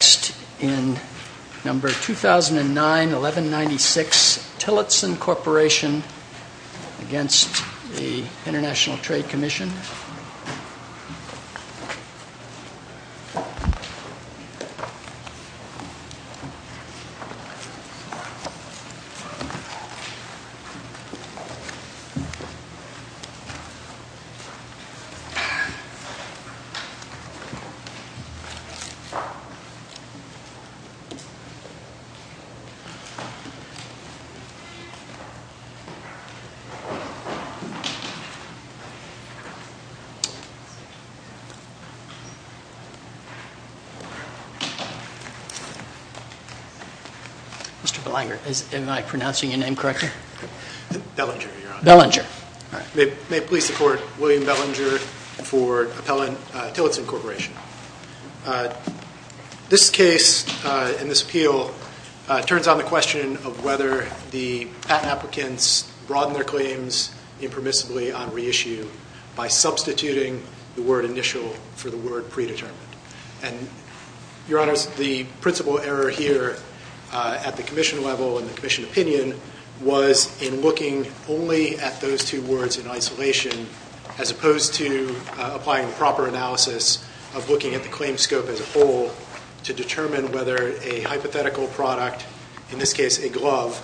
2009-1196 Tillotson Corporation v. ITC Mr. Belanger, am I pronouncing your name correctly? Belanger, Your Honor. Belanger. May it please the Court, William Belanger for Appellant Tillotson Corporation. This case and this appeal turns on the question of whether the patent applicants broaden their claims impermissibly on reissue by substituting the word initial for the word predetermined. And, Your Honors, the principal error here at the Commission level and the Commission opinion was in looking only at those two words in isolation as opposed to applying proper analysis of looking at the claim scope as a whole to determine whether a hypothetical product, in this case a glove,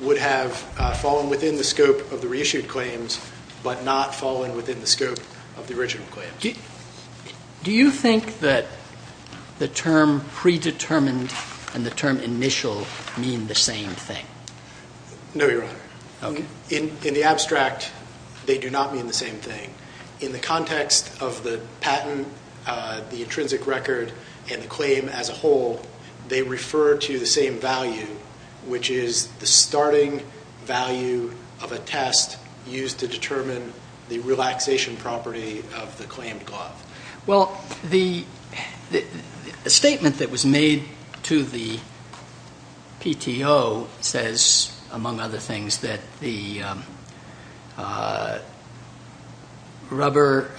would have fallen within the scope of the reissued claims but not fallen within the scope of the original claims. Do you think that the term predetermined and the term initial mean the same thing? No, Your Honor. Okay. In the abstract they do not mean the same thing. In the context of the patent, the intrinsic record, and the claim as a whole, they refer to the same value, which is the starting value of a test used to determine the relaxation property of the claimed glove. Well, the statement that was made to the PTO says, among other things, that the rubber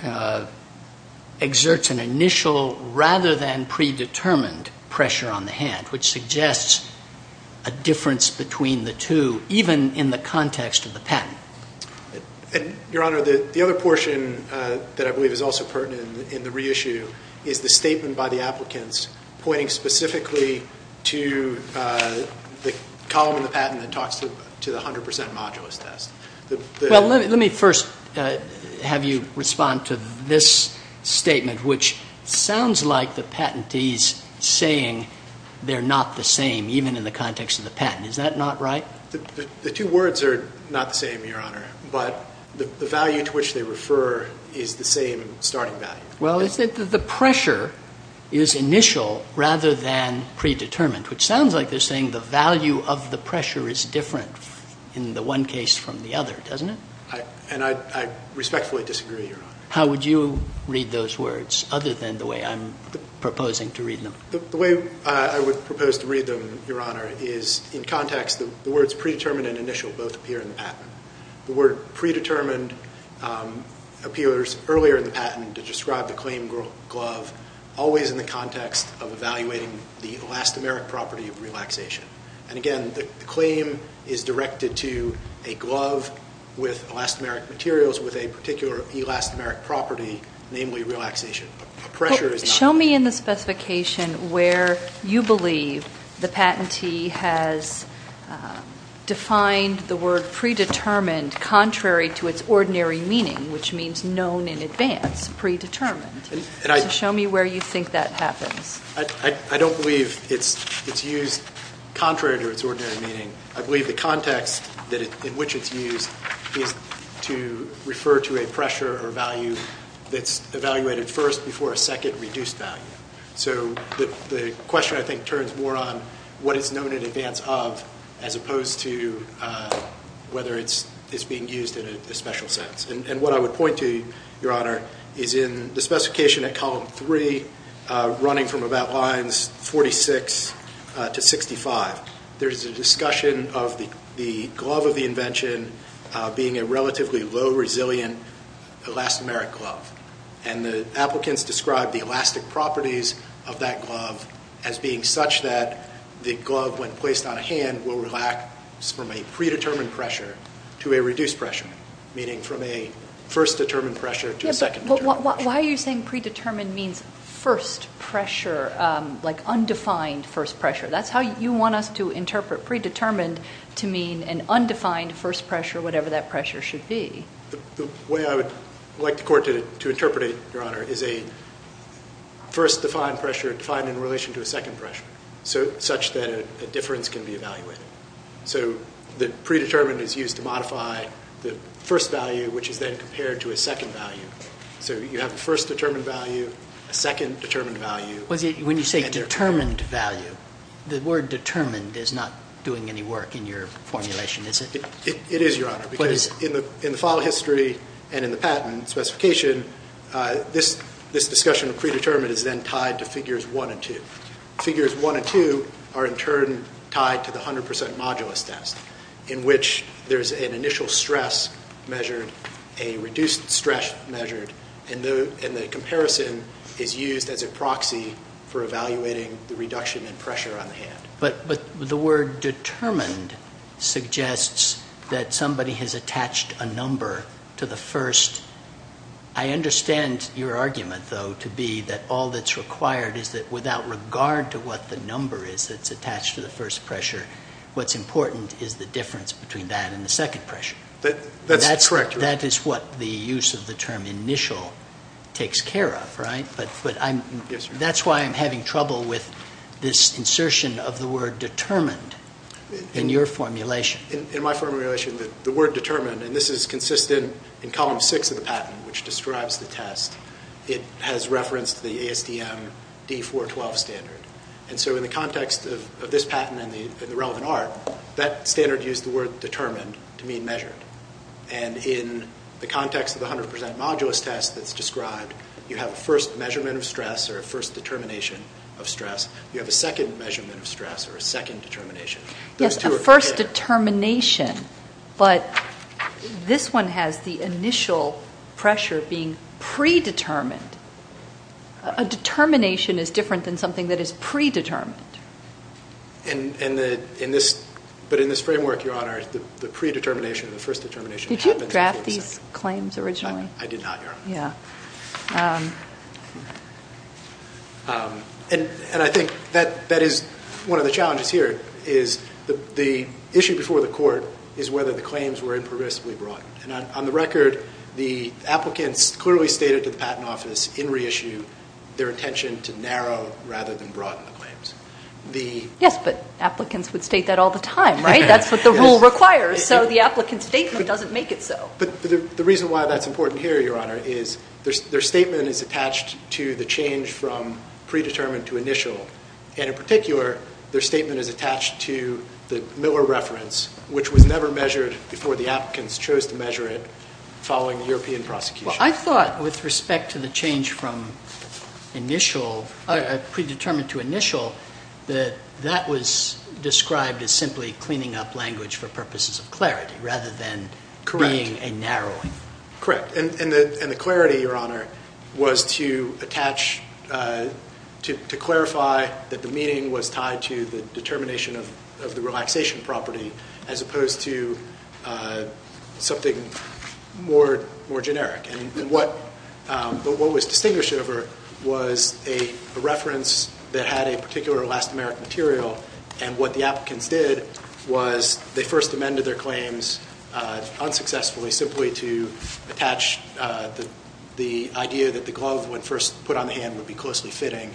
exerts an initial rather than predetermined pressure on the hand, which suggests a difference between the two, even in the context of the patent. Your Honor, the other portion that I believe is also pertinent in the reissue is the statement by the applicants pointing specifically to the column in the patent that talks to the 100 percent modulus test. Well, let me first have you respond to this statement, which sounds like the patentees saying they're not the same, even in the context of the patent. Is that not right? The two words are not the same, Your Honor, but the value to which they refer is the same starting value. Well, it's that the pressure is initial rather than predetermined, which sounds like they're saying the value of the pressure is different in the one case from the other, doesn't it? And I respectfully disagree, Your Honor. How would you read those words, other than the way I'm proposing to read them? The way I would propose to read them, Your Honor, is in context. The words predetermined and initial both appear in the patent. The word predetermined appears earlier in the patent to describe the claim glove, always in the context of evaluating the elastomeric property of relaxation. And again, the claim is directed to a glove with elastomeric materials with a particular elastomeric property, namely relaxation. Show me in the specification where you believe the patentee has defined the word predetermined contrary to its ordinary meaning, which means known in advance, predetermined. Show me where you think that happens. I don't believe it's used contrary to its ordinary meaning. I believe the context in which it's used is to refer to a pressure or value that's evaluated first before a second reduced value. So the question, I think, turns more on what it's known in advance of as opposed to whether it's being used in a special sense. And what I would point to, Your Honor, is in the specification at column three, running from about lines 46 to 65, there's a discussion of the glove of the invention being a relatively low resilient elastomeric glove. And the applicants describe the elastic properties of that glove as being such that the glove, when placed on a hand, will relax from a predetermined pressure to a reduced pressure, meaning from a first determined pressure to a second determined pressure. Why are you saying predetermined means first pressure, like undefined first pressure? That's how you want us to interpret predetermined to mean an undefined first pressure, whatever that pressure should be. The way I would like the Court to interpret it, Your Honor, is a first defined pressure defined in relation to a second pressure such that a difference can be evaluated. So the predetermined is used to modify the first value, which is then compared to a second value. So you have a first determined value, a second determined value. When you say determined value, the word determined is not doing any work in your formulation, is it? It is, Your Honor, because in the file history and in the patent specification, this discussion of predetermined is then tied to figures one and two. Figures one and two are in turn tied to the 100 percent modulus test, in which there's an initial stress measured, a reduced stress measured, and the comparison is used as a proxy for evaluating the reduction in pressure on the hand. But the word determined suggests that somebody has attached a number to the first. I understand your argument, though, to be that all that's required is that without regard to what the number is that's attached to the first pressure, what's important is the difference between that and the second pressure. That's correct, Your Honor. That is what the use of the term initial takes care of, right? Yes, Your Honor. That's why I'm having trouble with this insertion of the word determined in your formulation. In my formulation, the word determined, and this is consistent in column six of the patent, which describes the test. It has reference to the ASDM D412 standard. And so in the context of this patent and the relevant art, that standard used the word determined to mean measured. And in the context of the 100% modulus test that's described, you have a first measurement of stress or a first determination of stress. You have a second measurement of stress or a second determination. Yes, a first determination, but this one has the initial pressure being predetermined. A determination is different than something that is predetermined. But in this framework, Your Honor, the predetermination, the first determination happens in the 100%. Did you draft these claims originally? I did not, Your Honor. Yeah. And I think that is one of the challenges here is the issue before the court is whether the claims were impervisibly broadened. And on the record, the applicants clearly stated to the patent office in reissue their intention to narrow rather than broaden the claims. Yes, but applicants would state that all the time, right? That's what the rule requires, so the applicant's statement doesn't make it so. But the reason why that's important here, Your Honor, is their statement is attached to the change from predetermined to initial. And in particular, their statement is attached to the Miller reference, which was never measured before the applicants chose to measure it following the European prosecution. Well, I thought with respect to the change from initial, predetermined to initial, that that was described as simply cleaning up language for purposes of clarity rather than being a narrowing. Correct. And the clarity, Your Honor, was to clarify that the meaning was tied to the determination of the relaxation property as opposed to something more generic. And what was distinguished over was a reference that had a particular last-American material. And what the applicants did was they first amended their claims unsuccessfully simply to attach the idea that the glove, when first put on the hand, would be closely fitting.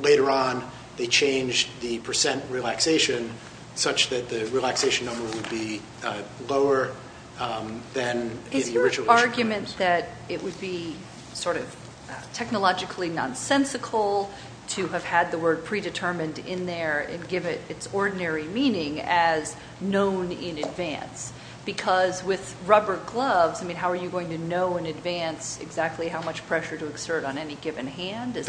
Later on, they changed the percent relaxation such that the relaxation number would be lower than the original. Is the argument that it would be sort of technologically nonsensical to have had the word predetermined in there and give it its ordinary meaning as known in advance? Because with rubber gloves, I mean, how are you going to know in advance exactly how much pressure to exert on any given hand? If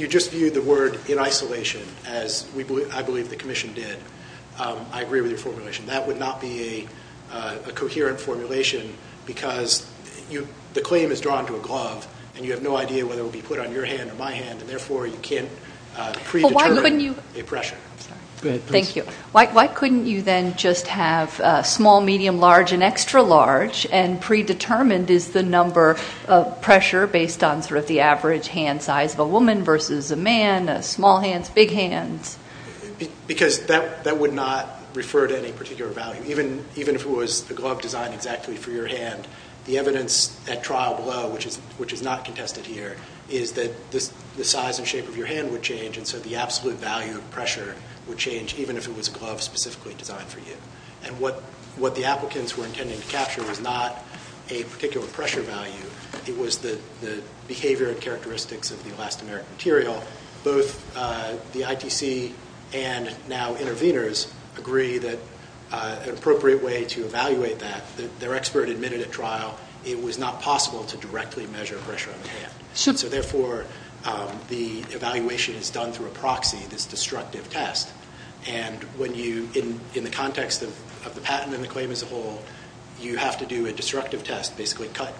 you just viewed the word in isolation, as I believe the commission did, I agree with your formulation. That would not be a coherent formulation because the claim is drawn to a glove, and you have no idea whether it will be put on your hand or my hand, and therefore you can't predetermine a pressure. Thank you. Why couldn't you then just have small, medium, large, and extra large, and predetermined is the number of pressure based on sort of the average hand size of a woman versus a man, small hands, big hands? Because that would not refer to any particular value. Even if it was a glove designed exactly for your hand, the evidence at trial below, which is not contested here, is that the size and shape of your hand would change, and so the absolute value of pressure would change even if it was a glove specifically designed for you. And what the applicants were intending to capture was not a particular pressure value. It was the behavior and characteristics of the elastomeric material. Both the ITC and now intervenors agree that an appropriate way to evaluate that, their expert admitted at trial, it was not possible to directly measure pressure on the hand. So therefore, the evaluation is done through a proxy, this destructive test. And when you, in the context of the patent and the claim as a whole, you have to do a destructive test, basically cut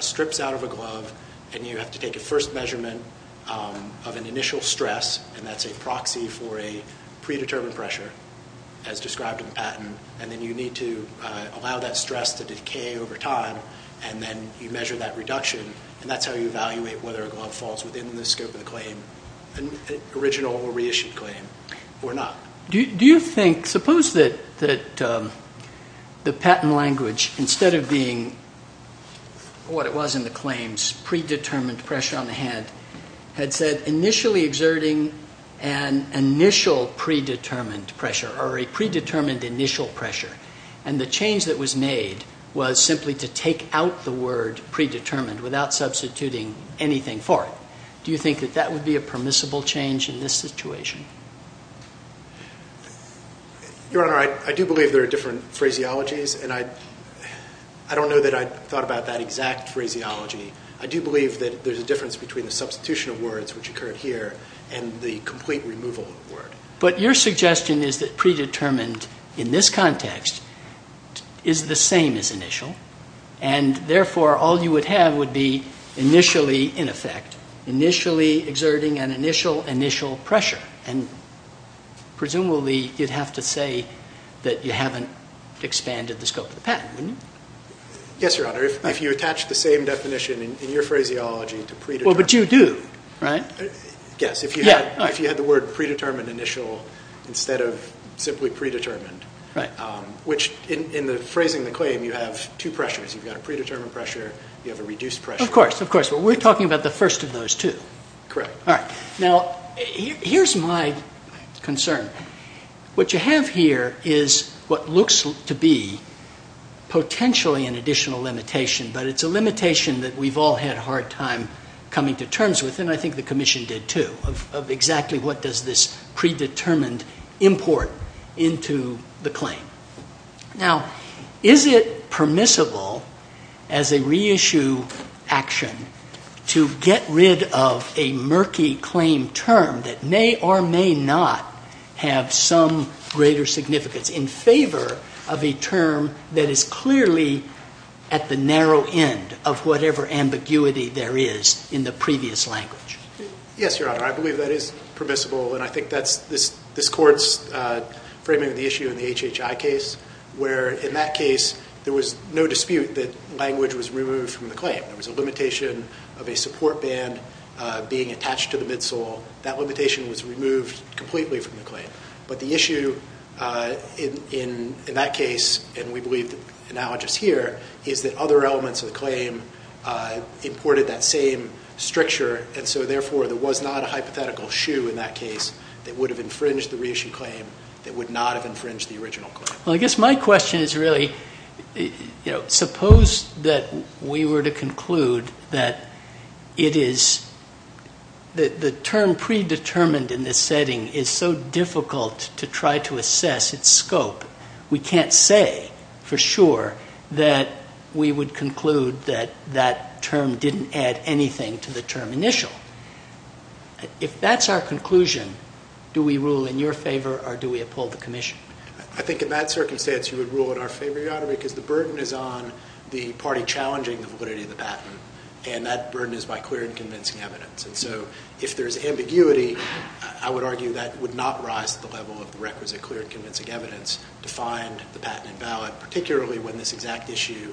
strips out of a glove and you have to take a first measurement of an initial stress, and that's a proxy for a predetermined pressure as described in the patent, and then you need to allow that stress to decay over time, and then you measure that reduction. And that's how you evaluate whether a glove falls within the scope of the claim, original or reissued claim, or not. Do you think, suppose that the patent language, instead of being what it was in the claims, predetermined pressure on the hand, had said initially exerting an initial predetermined pressure or a predetermined initial pressure, and the change that was made was simply to take out the word predetermined without substituting anything for it. Do you think that that would be a permissible change in this situation? Your Honor, I do believe there are different phraseologies, and I don't know that I thought about that exact phraseology. I do believe that there's a difference between the substitution of words, which occurred here, and the complete removal of the word. But your suggestion is that predetermined in this context is the same as initial, and therefore all you would have would be initially, in effect, initially exerting an initial initial pressure, and presumably you'd have to say that you haven't expanded the scope of the patent, wouldn't you? Yes, Your Honor. If you attach the same definition in your phraseology to predetermined... Well, but you do, right? Yes, if you had the word predetermined initial instead of simply predetermined, which in phrasing the claim, you have two pressures. You've got a predetermined pressure. You have a reduced pressure. Of course, of course. But we're talking about the first of those two. Correct. All right. Now, here's my concern. What you have here is what looks to be potentially an additional limitation, but it's a limitation that we've all had a hard time coming to terms with, and I think the Commission did too, of exactly what does this predetermined import into the claim. Now, is it permissible as a reissue action to get rid of a murky claim term that may or may not have some greater significance in favor of a term that is clearly at the narrow end of whatever ambiguity there is in the previous language? Yes, Your Honor. I believe that is permissible, and I think that's this Court's framing of the issue in the HHI case, where in that case there was no dispute that language was removed from the claim. There was a limitation of a support band being attached to the midsole. That limitation was removed completely from the claim. But the issue in that case, and we believe the analogous here, is that other elements of the claim imported that same stricture, and so therefore there was not a hypothetical shoe in that case that would have infringed the reissued claim that would not have infringed the original claim. Well, I guess my question is really, you know, to try to assess its scope, we can't say for sure that we would conclude that that term didn't add anything to the term initial. If that's our conclusion, do we rule in your favor or do we uphold the commission? I think in that circumstance you would rule in our favor, Your Honor, because the burden is on the party challenging the validity of the patent, and that burden is by clear and convincing evidence. And so if there's ambiguity, I would argue that would not rise to the level of the requisite clear and convincing evidence to find the patent invalid, particularly when this exact issue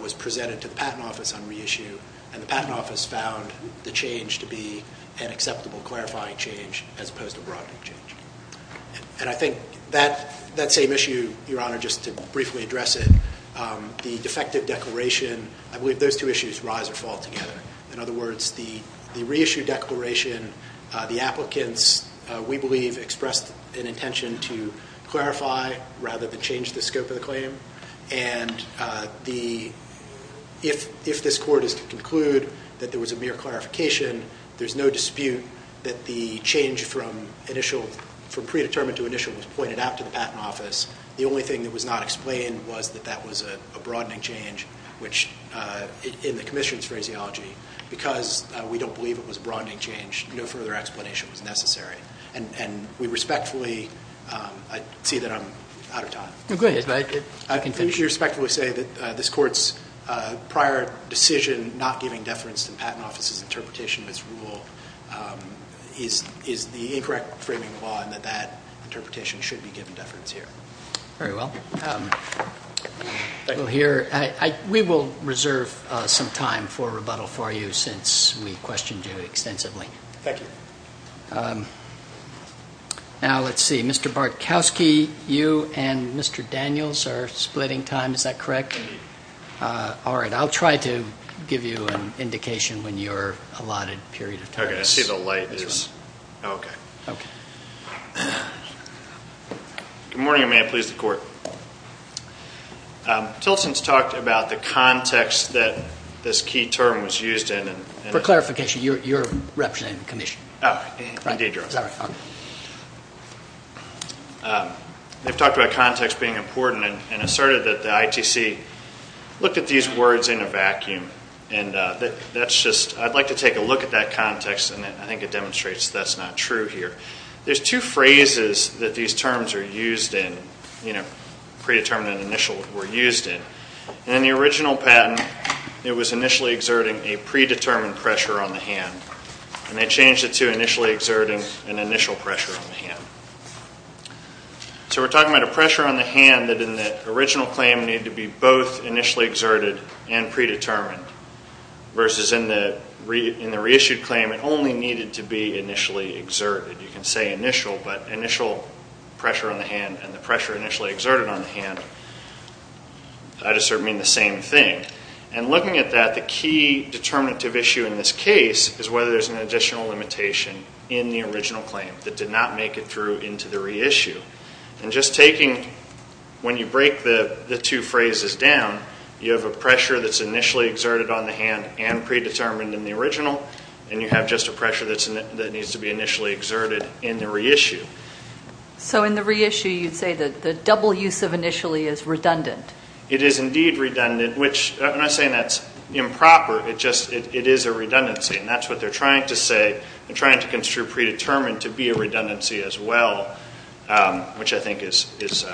was presented to the Patent Office on reissue, and the Patent Office found the change to be an acceptable clarifying change as opposed to broadening change. And I think that same issue, Your Honor, just to briefly address it, the defective declaration, I believe those two issues rise or fall together. In other words, the reissue declaration, the applicants, we believe, expressed an intention to clarify rather than change the scope of the claim. And if this Court is to conclude that there was a mere clarification, there's no dispute that the change from initial, from predetermined to initial, was pointed out to the Patent Office. The only thing that was not explained was that that was a broadening change, which in the commission's phraseology, because we don't believe it was a broadening change, no further explanation was necessary. And we respectfully see that I'm out of time. You respectfully say that this Court's prior decision not giving deference to the Patent Office's interpretation of its rule is the incorrect framing of the law and that that interpretation should be given deference here. Very well. We will reserve some time for rebuttal for you since we questioned you extensively. Thank you. Now, let's see. Mr. Bartkowski, you and Mr. Daniels are splitting time. Is that correct? Indeed. All right. I'll try to give you an indication when you're allotted a period of time. Okay. I see the light. Oh, okay. Okay. Good morning, and may it please the Court. Tilson's talked about the context that this key term was used in. For clarification, you're representing the commission. Oh, indeed you are. Sorry. They've talked about context being important and asserted that the ITC looked at these words in a vacuum. I'd like to take a look at that context, and I think it demonstrates that's not true here. There's two phrases that these terms are used in, predetermined and initial, were used in. In the original patent, it was initially exerting a predetermined pressure on the hand, and they changed it to initially exerting an initial pressure on the hand. So we're talking about a pressure on the hand that in the original claim needed to be both initially exerted and predetermined, versus in the reissued claim, it only needed to be initially exerted. You can say initial, but initial pressure on the hand and the pressure initially exerted on the hand, I just sort of mean the same thing. And looking at that, the key determinative issue in this case is whether there's an additional limitation in the original claim that did not make it through into the reissue. And just taking when you break the two phrases down, you have a pressure that's initially exerted on the hand and predetermined in the original, and you have just a pressure that needs to be initially exerted in the reissue. So in the reissue, you'd say that the double use of initially is redundant. It is indeed redundant, which I'm not saying that's improper. It is a redundancy, and that's what they're trying to say and trying to construe predetermined to be a redundancy as well, which I think is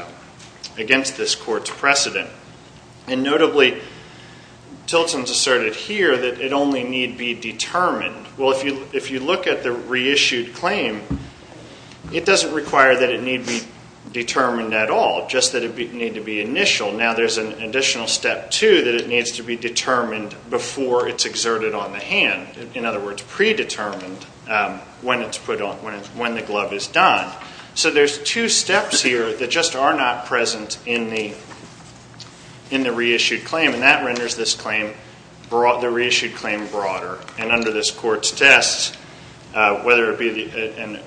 against this court's precedent. And notably, Tilton's asserted here that it only need be determined. Well, if you look at the reissued claim, it doesn't require that it need be determined at all, just that it need to be initial. Now there's an additional step, too, that it needs to be determined before it's exerted on the hand. In other words, predetermined when the glove is done. So there's two steps here that just are not present in the reissued claim, and that renders this claim, the reissued claim, broader. And under this court's test, whether the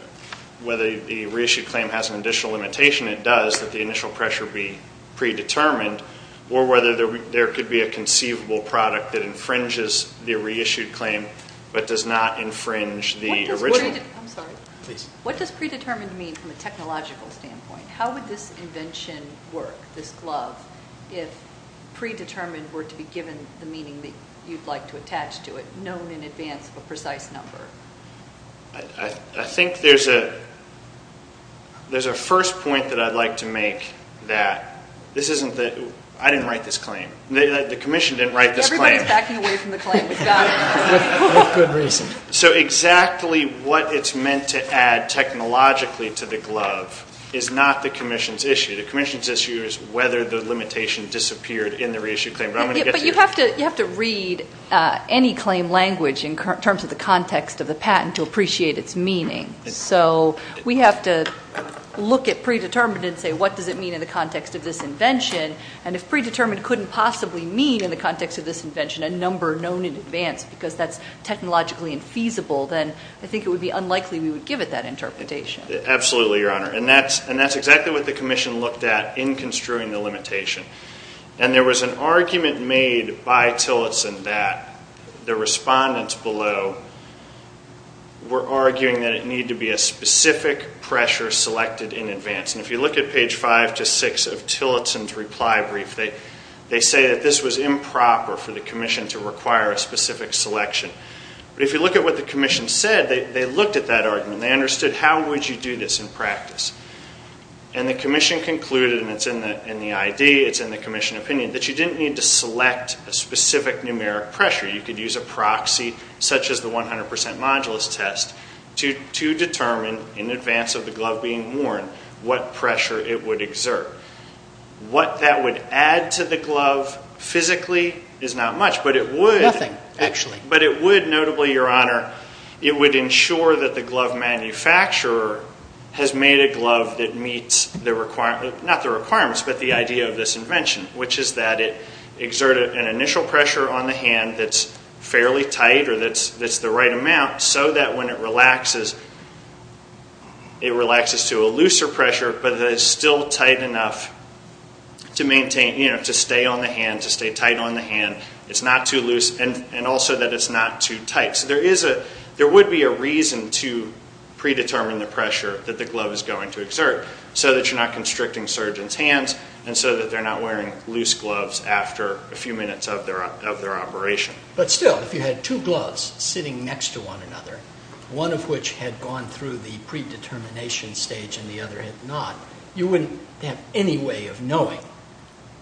reissued claim has an additional limitation, it does, that the initial pressure be predetermined, or whether there could be a conceivable product that infringes the reissued claim but does not infringe the original. I'm sorry. Please. What does predetermined mean from a technological standpoint? How would this invention work, this glove, if predetermined were to be given the meaning that you'd like to attach to it, known in advance of a precise number? I think there's a first point that I'd like to make that this isn't the ñ I didn't write this claim. The Commission didn't write this claim. Everybody's backing away from the claim. With good reason. So exactly what it's meant to add technologically to the glove is not the Commission's issue. The Commission's issue is whether the limitation disappeared in the reissued claim. But you have to read any claim language in terms of the context of the patent to appreciate its meaning. So we have to look at predetermined and say, what does it mean in the context of this invention? And if predetermined couldn't possibly mean, in the context of this invention, a number known in advance because that's technologically infeasible, then I think it would be unlikely we would give it that interpretation. Absolutely, Your Honor. And that's exactly what the Commission looked at in construing the limitation. And there was an argument made by Tillotson that the respondents below were arguing that it needed to be a specific pressure selected in advance. And if you look at page 5 to 6 of Tillotson's reply brief, they say that this was improper for the Commission to require a specific selection. But if you look at what the Commission said, they looked at that argument. They understood, how would you do this in practice? And the Commission concluded, and it's in the ID, it's in the Commission opinion, that you didn't need to select a specific numeric pressure. You could use a proxy, such as the 100% modulus test, to determine in advance of the glove being worn what pressure it would exert. What that would add to the glove physically is not much, but it would. Nothing, actually. But it would, notably, Your Honor, it would ensure that the glove manufacturer has made a glove that meets the requirements, not the requirements, but the idea of this invention, which is that it exerted an initial pressure on the hand that's fairly tight, or that's the right amount, so that when it relaxes, it relaxes to a looser pressure, but it's still tight enough to maintain, you know, to stay on the hand, to stay tight on the hand. It's not too loose, and also that it's not too tight. So there is a, there would be a reason to predetermine the pressure that the glove is going to exert, so that you're not constricting surgeons' hands, and so that they're not wearing loose gloves after a few minutes of their operation. But still, if you had two gloves sitting next to one another, one of which had gone through the predetermination stage and the other had not, you wouldn't have any way of knowing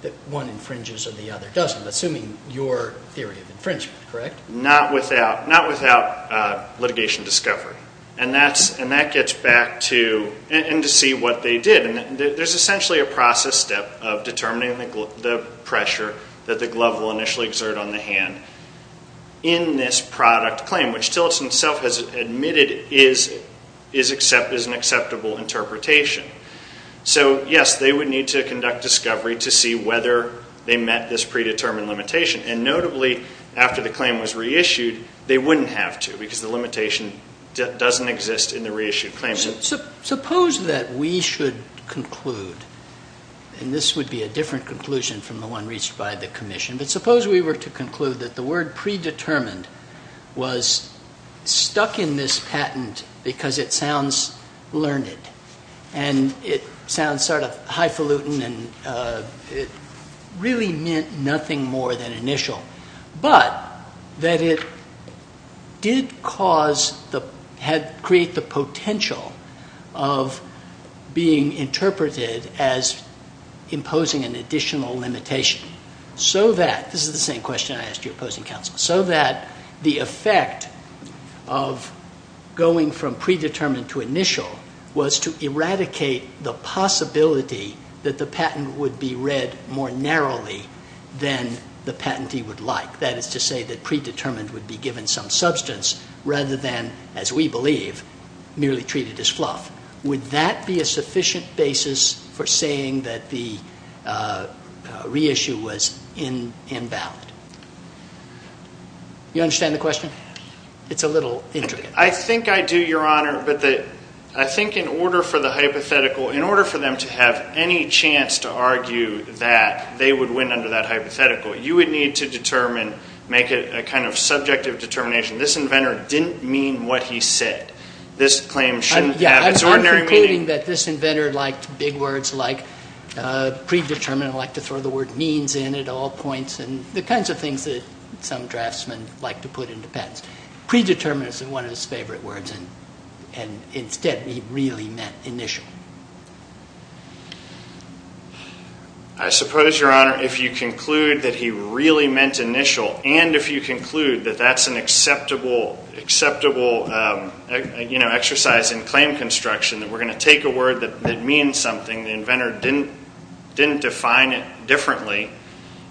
that one infringes or the other doesn't, assuming your theory of infringement, correct? Not without litigation discovery, and that gets back to, and to see what they did. There's essentially a process step of determining the pressure that the glove will initially exert on the hand in this product claim, which Tillotson himself has admitted is an acceptable interpretation. So, yes, they would need to conduct discovery to see whether they met this predetermined limitation, and notably, after the claim was reissued, they wouldn't have to, because the limitation doesn't exist in the reissued claim. So suppose that we should conclude, and this would be a different conclusion from the one reached by the commission, but suppose we were to conclude that the word predetermined was stuck in this patent because it sounds learned, and it sounds sort of highfalutin, and it really meant nothing more than initial, but that it did cause the, had created the potential of being interpreted as imposing an additional limitation, so that, this is the same question I asked you opposing counsel, so that the effect of going from predetermined to initial was to eradicate the possibility that the patent would be read more narrowly than the patentee would like. That is to say that predetermined would be given some substance rather than, as we believe, merely treated as fluff. Would that be a sufficient basis for saying that the reissue was invalid? You understand the question? It's a little intricate. I think I do, Your Honor, but I think in order for the hypothetical, in order for them to have any chance to argue that they would win under that hypothetical, you would need to determine, make a kind of subjective determination, this inventor didn't mean what he said. I'm concluding that this inventor liked big words like predetermined, liked to throw the word means in at all points, and the kinds of things that some draftsmen like to put into patents. Predetermined is one of his favorite words, and instead he really meant initial. I suppose, Your Honor, if you conclude that he really meant initial, and if you conclude that that's an acceptable exercise in claim construction, that we're going to take a word that means something, the inventor didn't define it differently.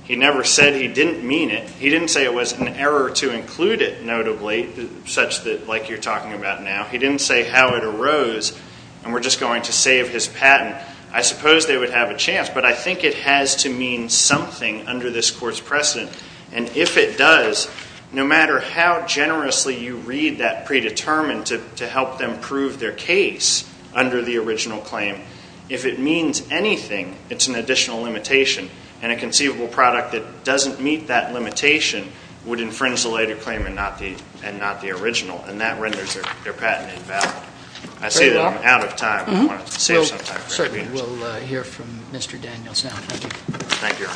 He never said he didn't mean it. He didn't say it was an error to include it, notably, such that like you're talking about now. He didn't say how it arose, and we're just going to save his patent. I suppose they would have a chance, but I think it has to mean something under this court's precedent, and if it does, no matter how generously you read that predetermined to help them prove their case under the original claim, if it means anything, it's an additional limitation, and a conceivable product that doesn't meet that limitation would infringe the later claim and not the original, and that renders their patent invalid. I say that I'm out of time. I want to save some time. We'll hear from Mr. Daniels now. Thank you. Thank you.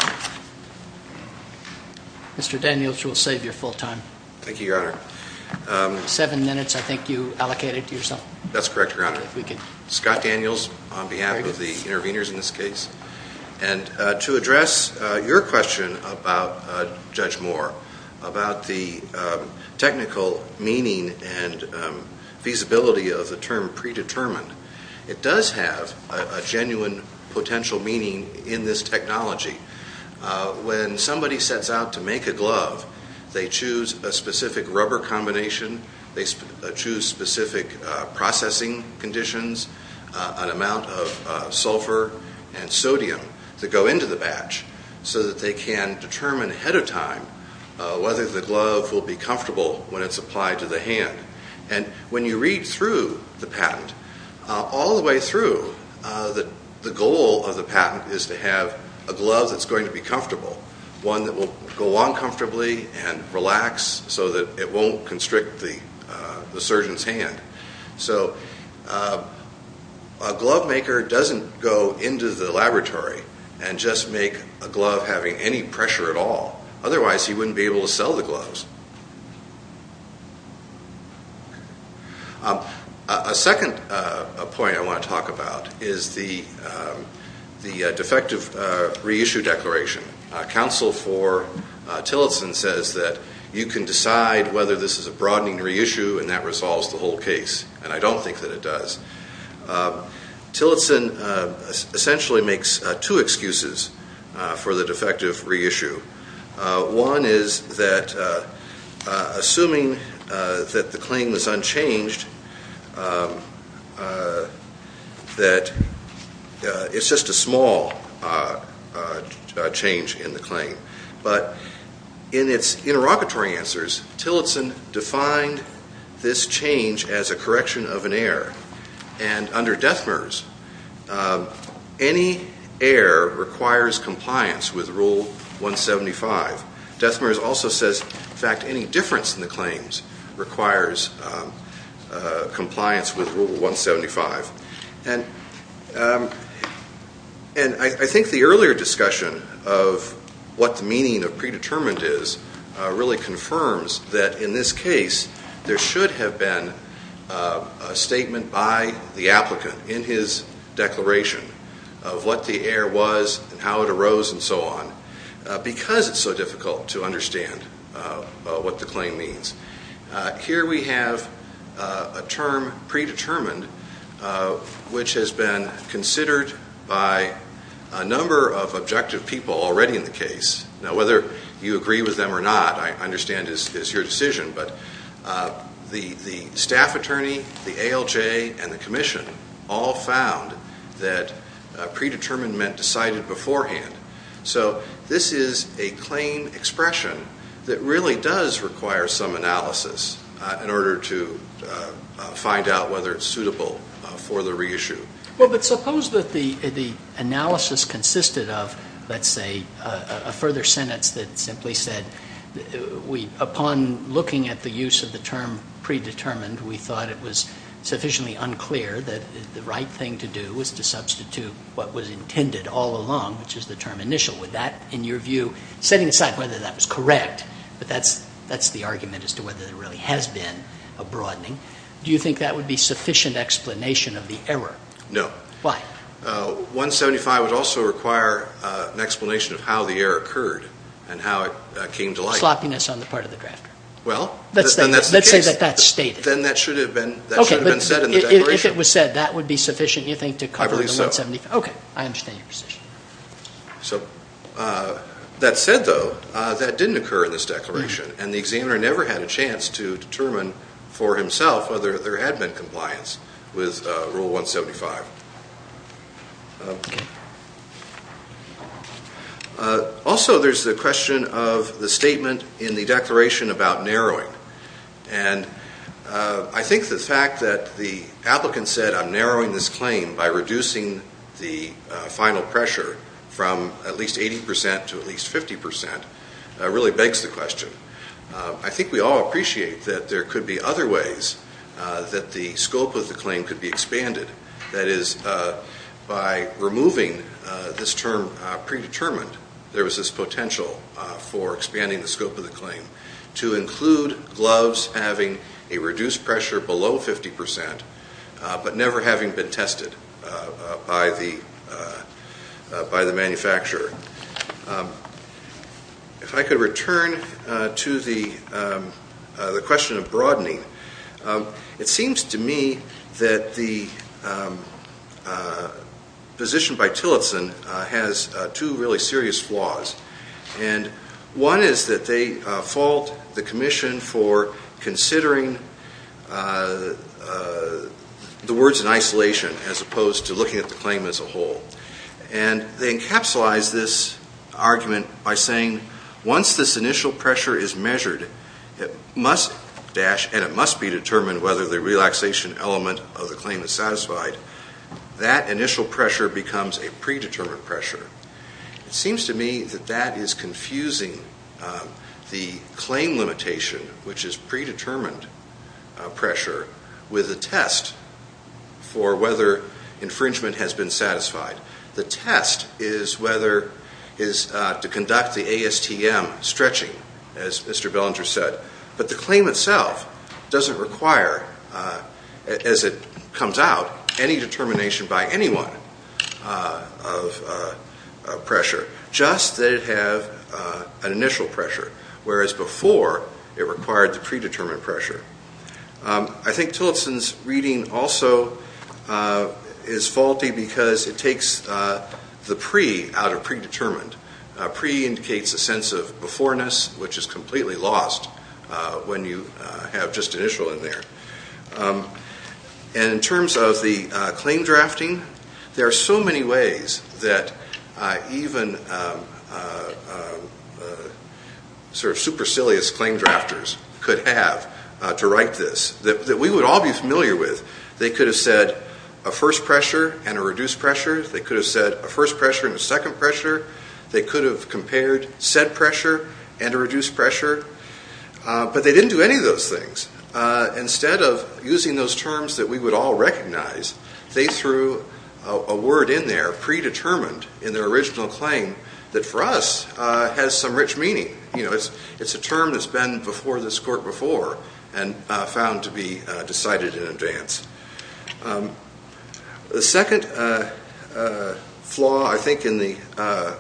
Mr. Daniels, we'll save your full time. Thank you, Your Honor. Seven minutes, I think you allocated to yourself. That's correct, Your Honor. Scott Daniels on behalf of the interveners in this case, and to address your question about Judge Moore, about the technical meaning and feasibility of the term predetermined, it does have a genuine potential meaning in this technology. When somebody sets out to make a glove, they choose a specific rubber combination, they choose specific processing conditions, an amount of sulfur and sodium that go into the batch so that they can determine ahead of time whether the glove will be comfortable when it's applied to the hand. And when you read through the patent, all the way through, the goal of the patent is to have a glove that's going to be comfortable, one that will go on comfortably and relax so that it won't constrict the surgeon's hand. So a glove maker doesn't go into the laboratory and just make a glove having any pressure at all. Otherwise, he wouldn't be able to sell the gloves. A second point I want to talk about is the defective reissue declaration. Counsel for Tillotson says that you can decide whether this is a broadening reissue and that resolves the whole case, and I don't think that it does. Tillotson essentially makes two excuses for the defective reissue. One is that assuming that the claim is unchanged, that it's just a small change in the claim. But in its interlocutory answers, Tillotson defined this change as a correction of an error. And under Dethmers, any error requires compliance with Rule 175. Dethmers also says, in fact, any difference in the claims requires compliance with Rule 175. And I think the earlier discussion of what the meaning of predetermined is really confirms that in this case, there should have been a statement by the applicant in his declaration of what the error was and how it arose and so on, because it's so difficult to understand what the claim means. Here we have a term, predetermined, which has been considered by a number of objective people already in the case. Now, whether you agree with them or not, I understand, is your decision. But the staff attorney, the ALJ, and the commission all found that predetermined meant decided beforehand. So this is a claim expression that really does require some analysis in order to find out whether it's suitable for the reissue. Well, but suppose that the analysis consisted of, let's say, a further sentence that simply said, upon looking at the use of the term predetermined, we thought it was sufficiently unclear that the right thing to do was to substitute what was intended all along, which is the term initial. Would that, in your view, setting aside whether that was correct, but that's the argument as to whether there really has been a broadening, do you think that would be sufficient explanation of the error? No. Why? 175 would also require an explanation of how the error occurred and how it came to light. Sloppiness on the part of the drafter. Well, then that's the case. Let's say that that's stated. Then that should have been said in the declaration. If it was said, that would be sufficient, you think, to cover the 175? I believe so. Okay. I understand your position. So that said, though, that didn't occur in this declaration, and the examiner never had a chance to determine for himself whether there had been compliance with Rule 175. Also, there's the question of the statement in the declaration about narrowing. And I think the fact that the applicant said, I'm narrowing this claim by reducing the final pressure from at least 80% to at least 50% really begs the question. I think we all appreciate that there could be other ways that the scope of the claim could be expanded. That is, by removing this term predetermined, there was this potential for expanding the scope of the claim to include gloves having a reduced pressure below 50%, but never having been tested by the manufacturer. If I could return to the question of broadening, it seems to me that the position by Tillotson has two really serious flaws. And one is that they fault the commission for considering the words in isolation as opposed to looking at the claim as a whole. And they encapsulize this argument by saying, once this initial pressure is measured and it must be determined whether the relaxation element of the claim is satisfied, that initial pressure becomes a predetermined pressure. It seems to me that that is confusing the claim limitation, which is predetermined pressure, with a test for whether infringement has been satisfied. The test is to conduct the ASTM stretching, as Mr. Bellinger said. But the claim itself doesn't require, as it comes out, any determination by anyone of pressure, just that it have an initial pressure, whereas before it required the predetermined pressure. I think Tillotson's reading also is faulty because it takes the pre out of predetermined. Pre indicates a sense of beforeness, which is completely lost when you have just initial in there. And in terms of the claim drafting, there are so many ways that even supercilious claim drafters could have to write this, that we would all be familiar with. They could have said a first pressure and a reduced pressure. They could have said a first pressure and a second pressure. They could have compared said pressure and a reduced pressure. But they didn't do any of those things. Instead of using those terms that we would all recognize, they threw a word in there, predetermined in their original claim, that for us has some rich meaning. It's a term that's been before this court before and found to be decided in advance. The second flaw, I think, in the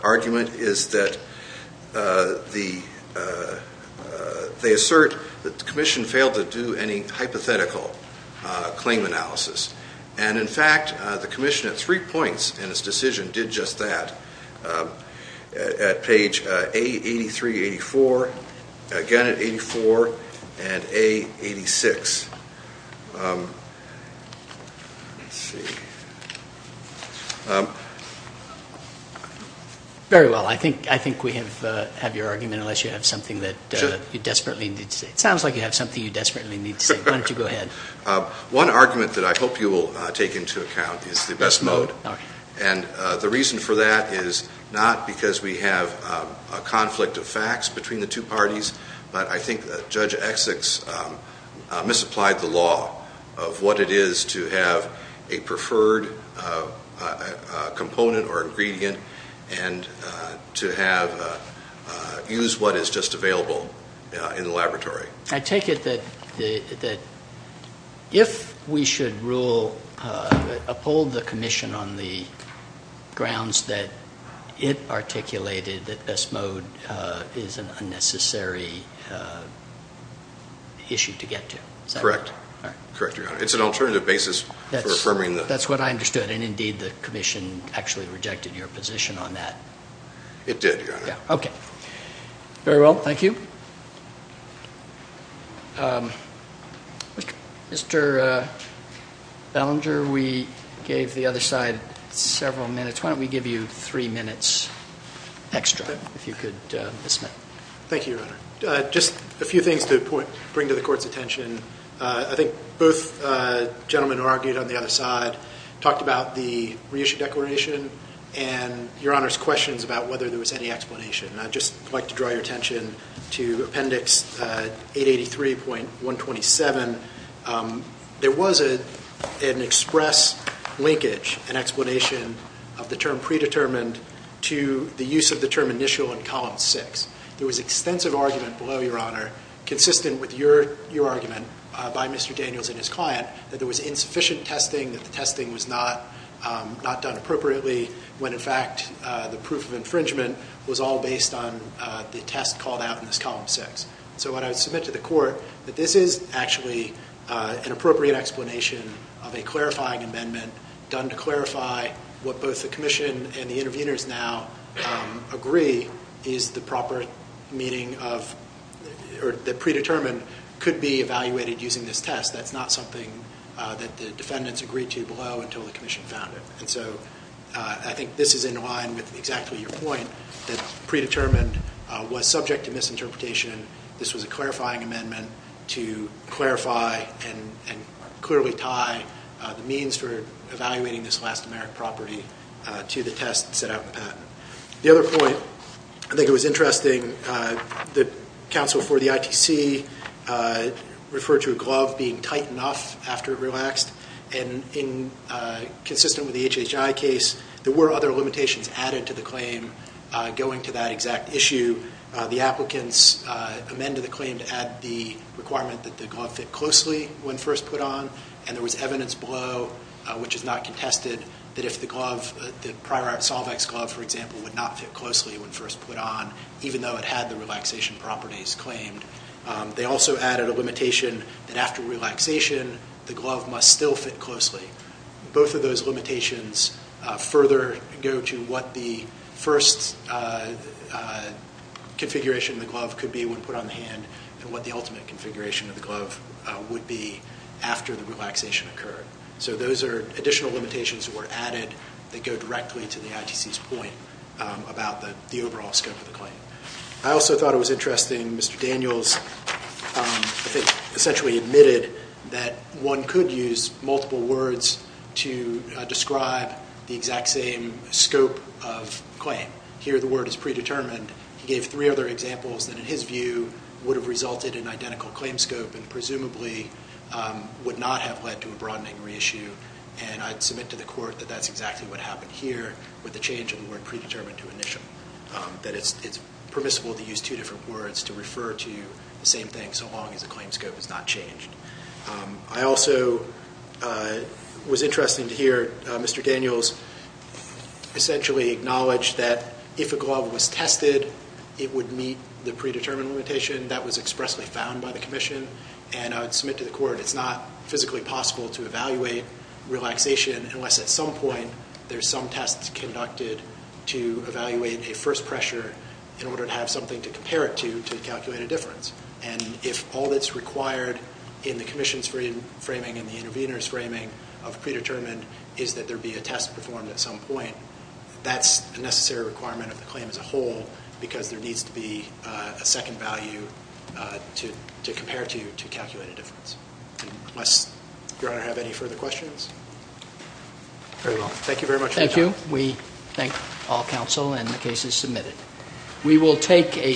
argument is that they assert that the commission failed to do any hypothetical claim analysis. And in fact, the commission at three points in its decision did just that. At page A83, 84, again at 84, and A86. Very well. I think we have your argument, unless you have something that you desperately need to say. It sounds like you have something you desperately need to say. Why don't you go ahead. One argument that I hope you will take into account is the best mode. And the reason for that is not because we have a conflict of facts between the two parties, but I think that Judge Exick's misapplied the law of what it is to have a preferred component or ingredient and to use what is just available in the laboratory. I take it that if we should uphold the commission on the grounds that it articulated that best mode is an unnecessary issue to get to. Correct. Correct, Your Honor. It's an alternative basis for affirming that. That's what I understood. And indeed, the commission actually rejected your position on that. It did, Your Honor. Okay. Very well. Thank you. Mr. Bellinger, we gave the other side several minutes. Why don't we give you three minutes extra, if you could, Ms. Smith. Thank you, Your Honor. Just a few things to bring to the Court's attention. I think both gentlemen who argued on the other side talked about the reissue declaration and Your Honor's questions about whether there was any explanation. And I'd just like to draw your attention to Appendix 883.127. There was an express linkage and explanation of the term predetermined to the use of the term initial in Column 6. There was extensive argument below, Your Honor, consistent with your argument by Mr. Daniels and his client, that there was insufficient testing, that the testing was not done appropriately, when, in fact, the proof of infringement was all based on the test called out in this Column 6. So what I would submit to the Court, that this is actually an appropriate explanation of a clarifying amendment done to clarify what both the commission and the interveners now agree is the proper meaning of or the predetermined could be evaluated using this test. That's not something that the defendants agreed to below until the commission found it. And so I think this is in line with exactly your point that predetermined was subject to misinterpretation. This was a clarifying amendment to clarify and clearly tie the means for evaluating this last-americ property to the test set out in the patent. The other point, I think it was interesting, the counsel for the ITC referred to a glove being tight enough after it relaxed. And consistent with the HHI case, there were other limitations added to the claim going to that exact issue. The applicants amended the claim to add the requirement that the glove fit closely when first put on. And there was evidence below, which is not contested, that if the glove, the Prior Art Solvex glove, for example, would not fit closely when first put on, even though it had the relaxation properties claimed. They also added a limitation that after relaxation, the glove must still fit closely. Both of those limitations further go to what the first configuration of the glove could be when put on the hand and what the ultimate configuration of the glove would be after the relaxation occurred. So those are additional limitations that were added that go directly to the ITC's point about the overall scope of the claim. I also thought it was interesting, Mr. Daniels, I think, essentially admitted that one could use multiple words to describe the exact same scope of claim. Here the word is predetermined. He gave three other examples that in his view would have resulted in identical claim scope and presumably would not have led to a broadening reissue. And I'd submit to the court that that's exactly what happened here with the change of the word predetermined to initial. That it's permissible to use two different words to refer to the same thing so long as the claim scope is not changed. I also was interested to hear Mr. Daniels essentially acknowledge that if a glove was tested, it would meet the predetermined limitation that was expressly found by the commission. And I would submit to the court it's not physically possible to evaluate relaxation unless at some point there's some tests conducted to evaluate a first pressure in order to have something to compare it to to calculate a difference. And if all that's required in the commission's framing and the intervener's framing of predetermined is that there be a test performed at some point, that's a necessary requirement of the claim as a whole because there needs to be a second value to compare to to calculate a difference. Unless Your Honor have any further questions? Very well. Thank you very much. Thank you. We thank all counsel and the case is submitted.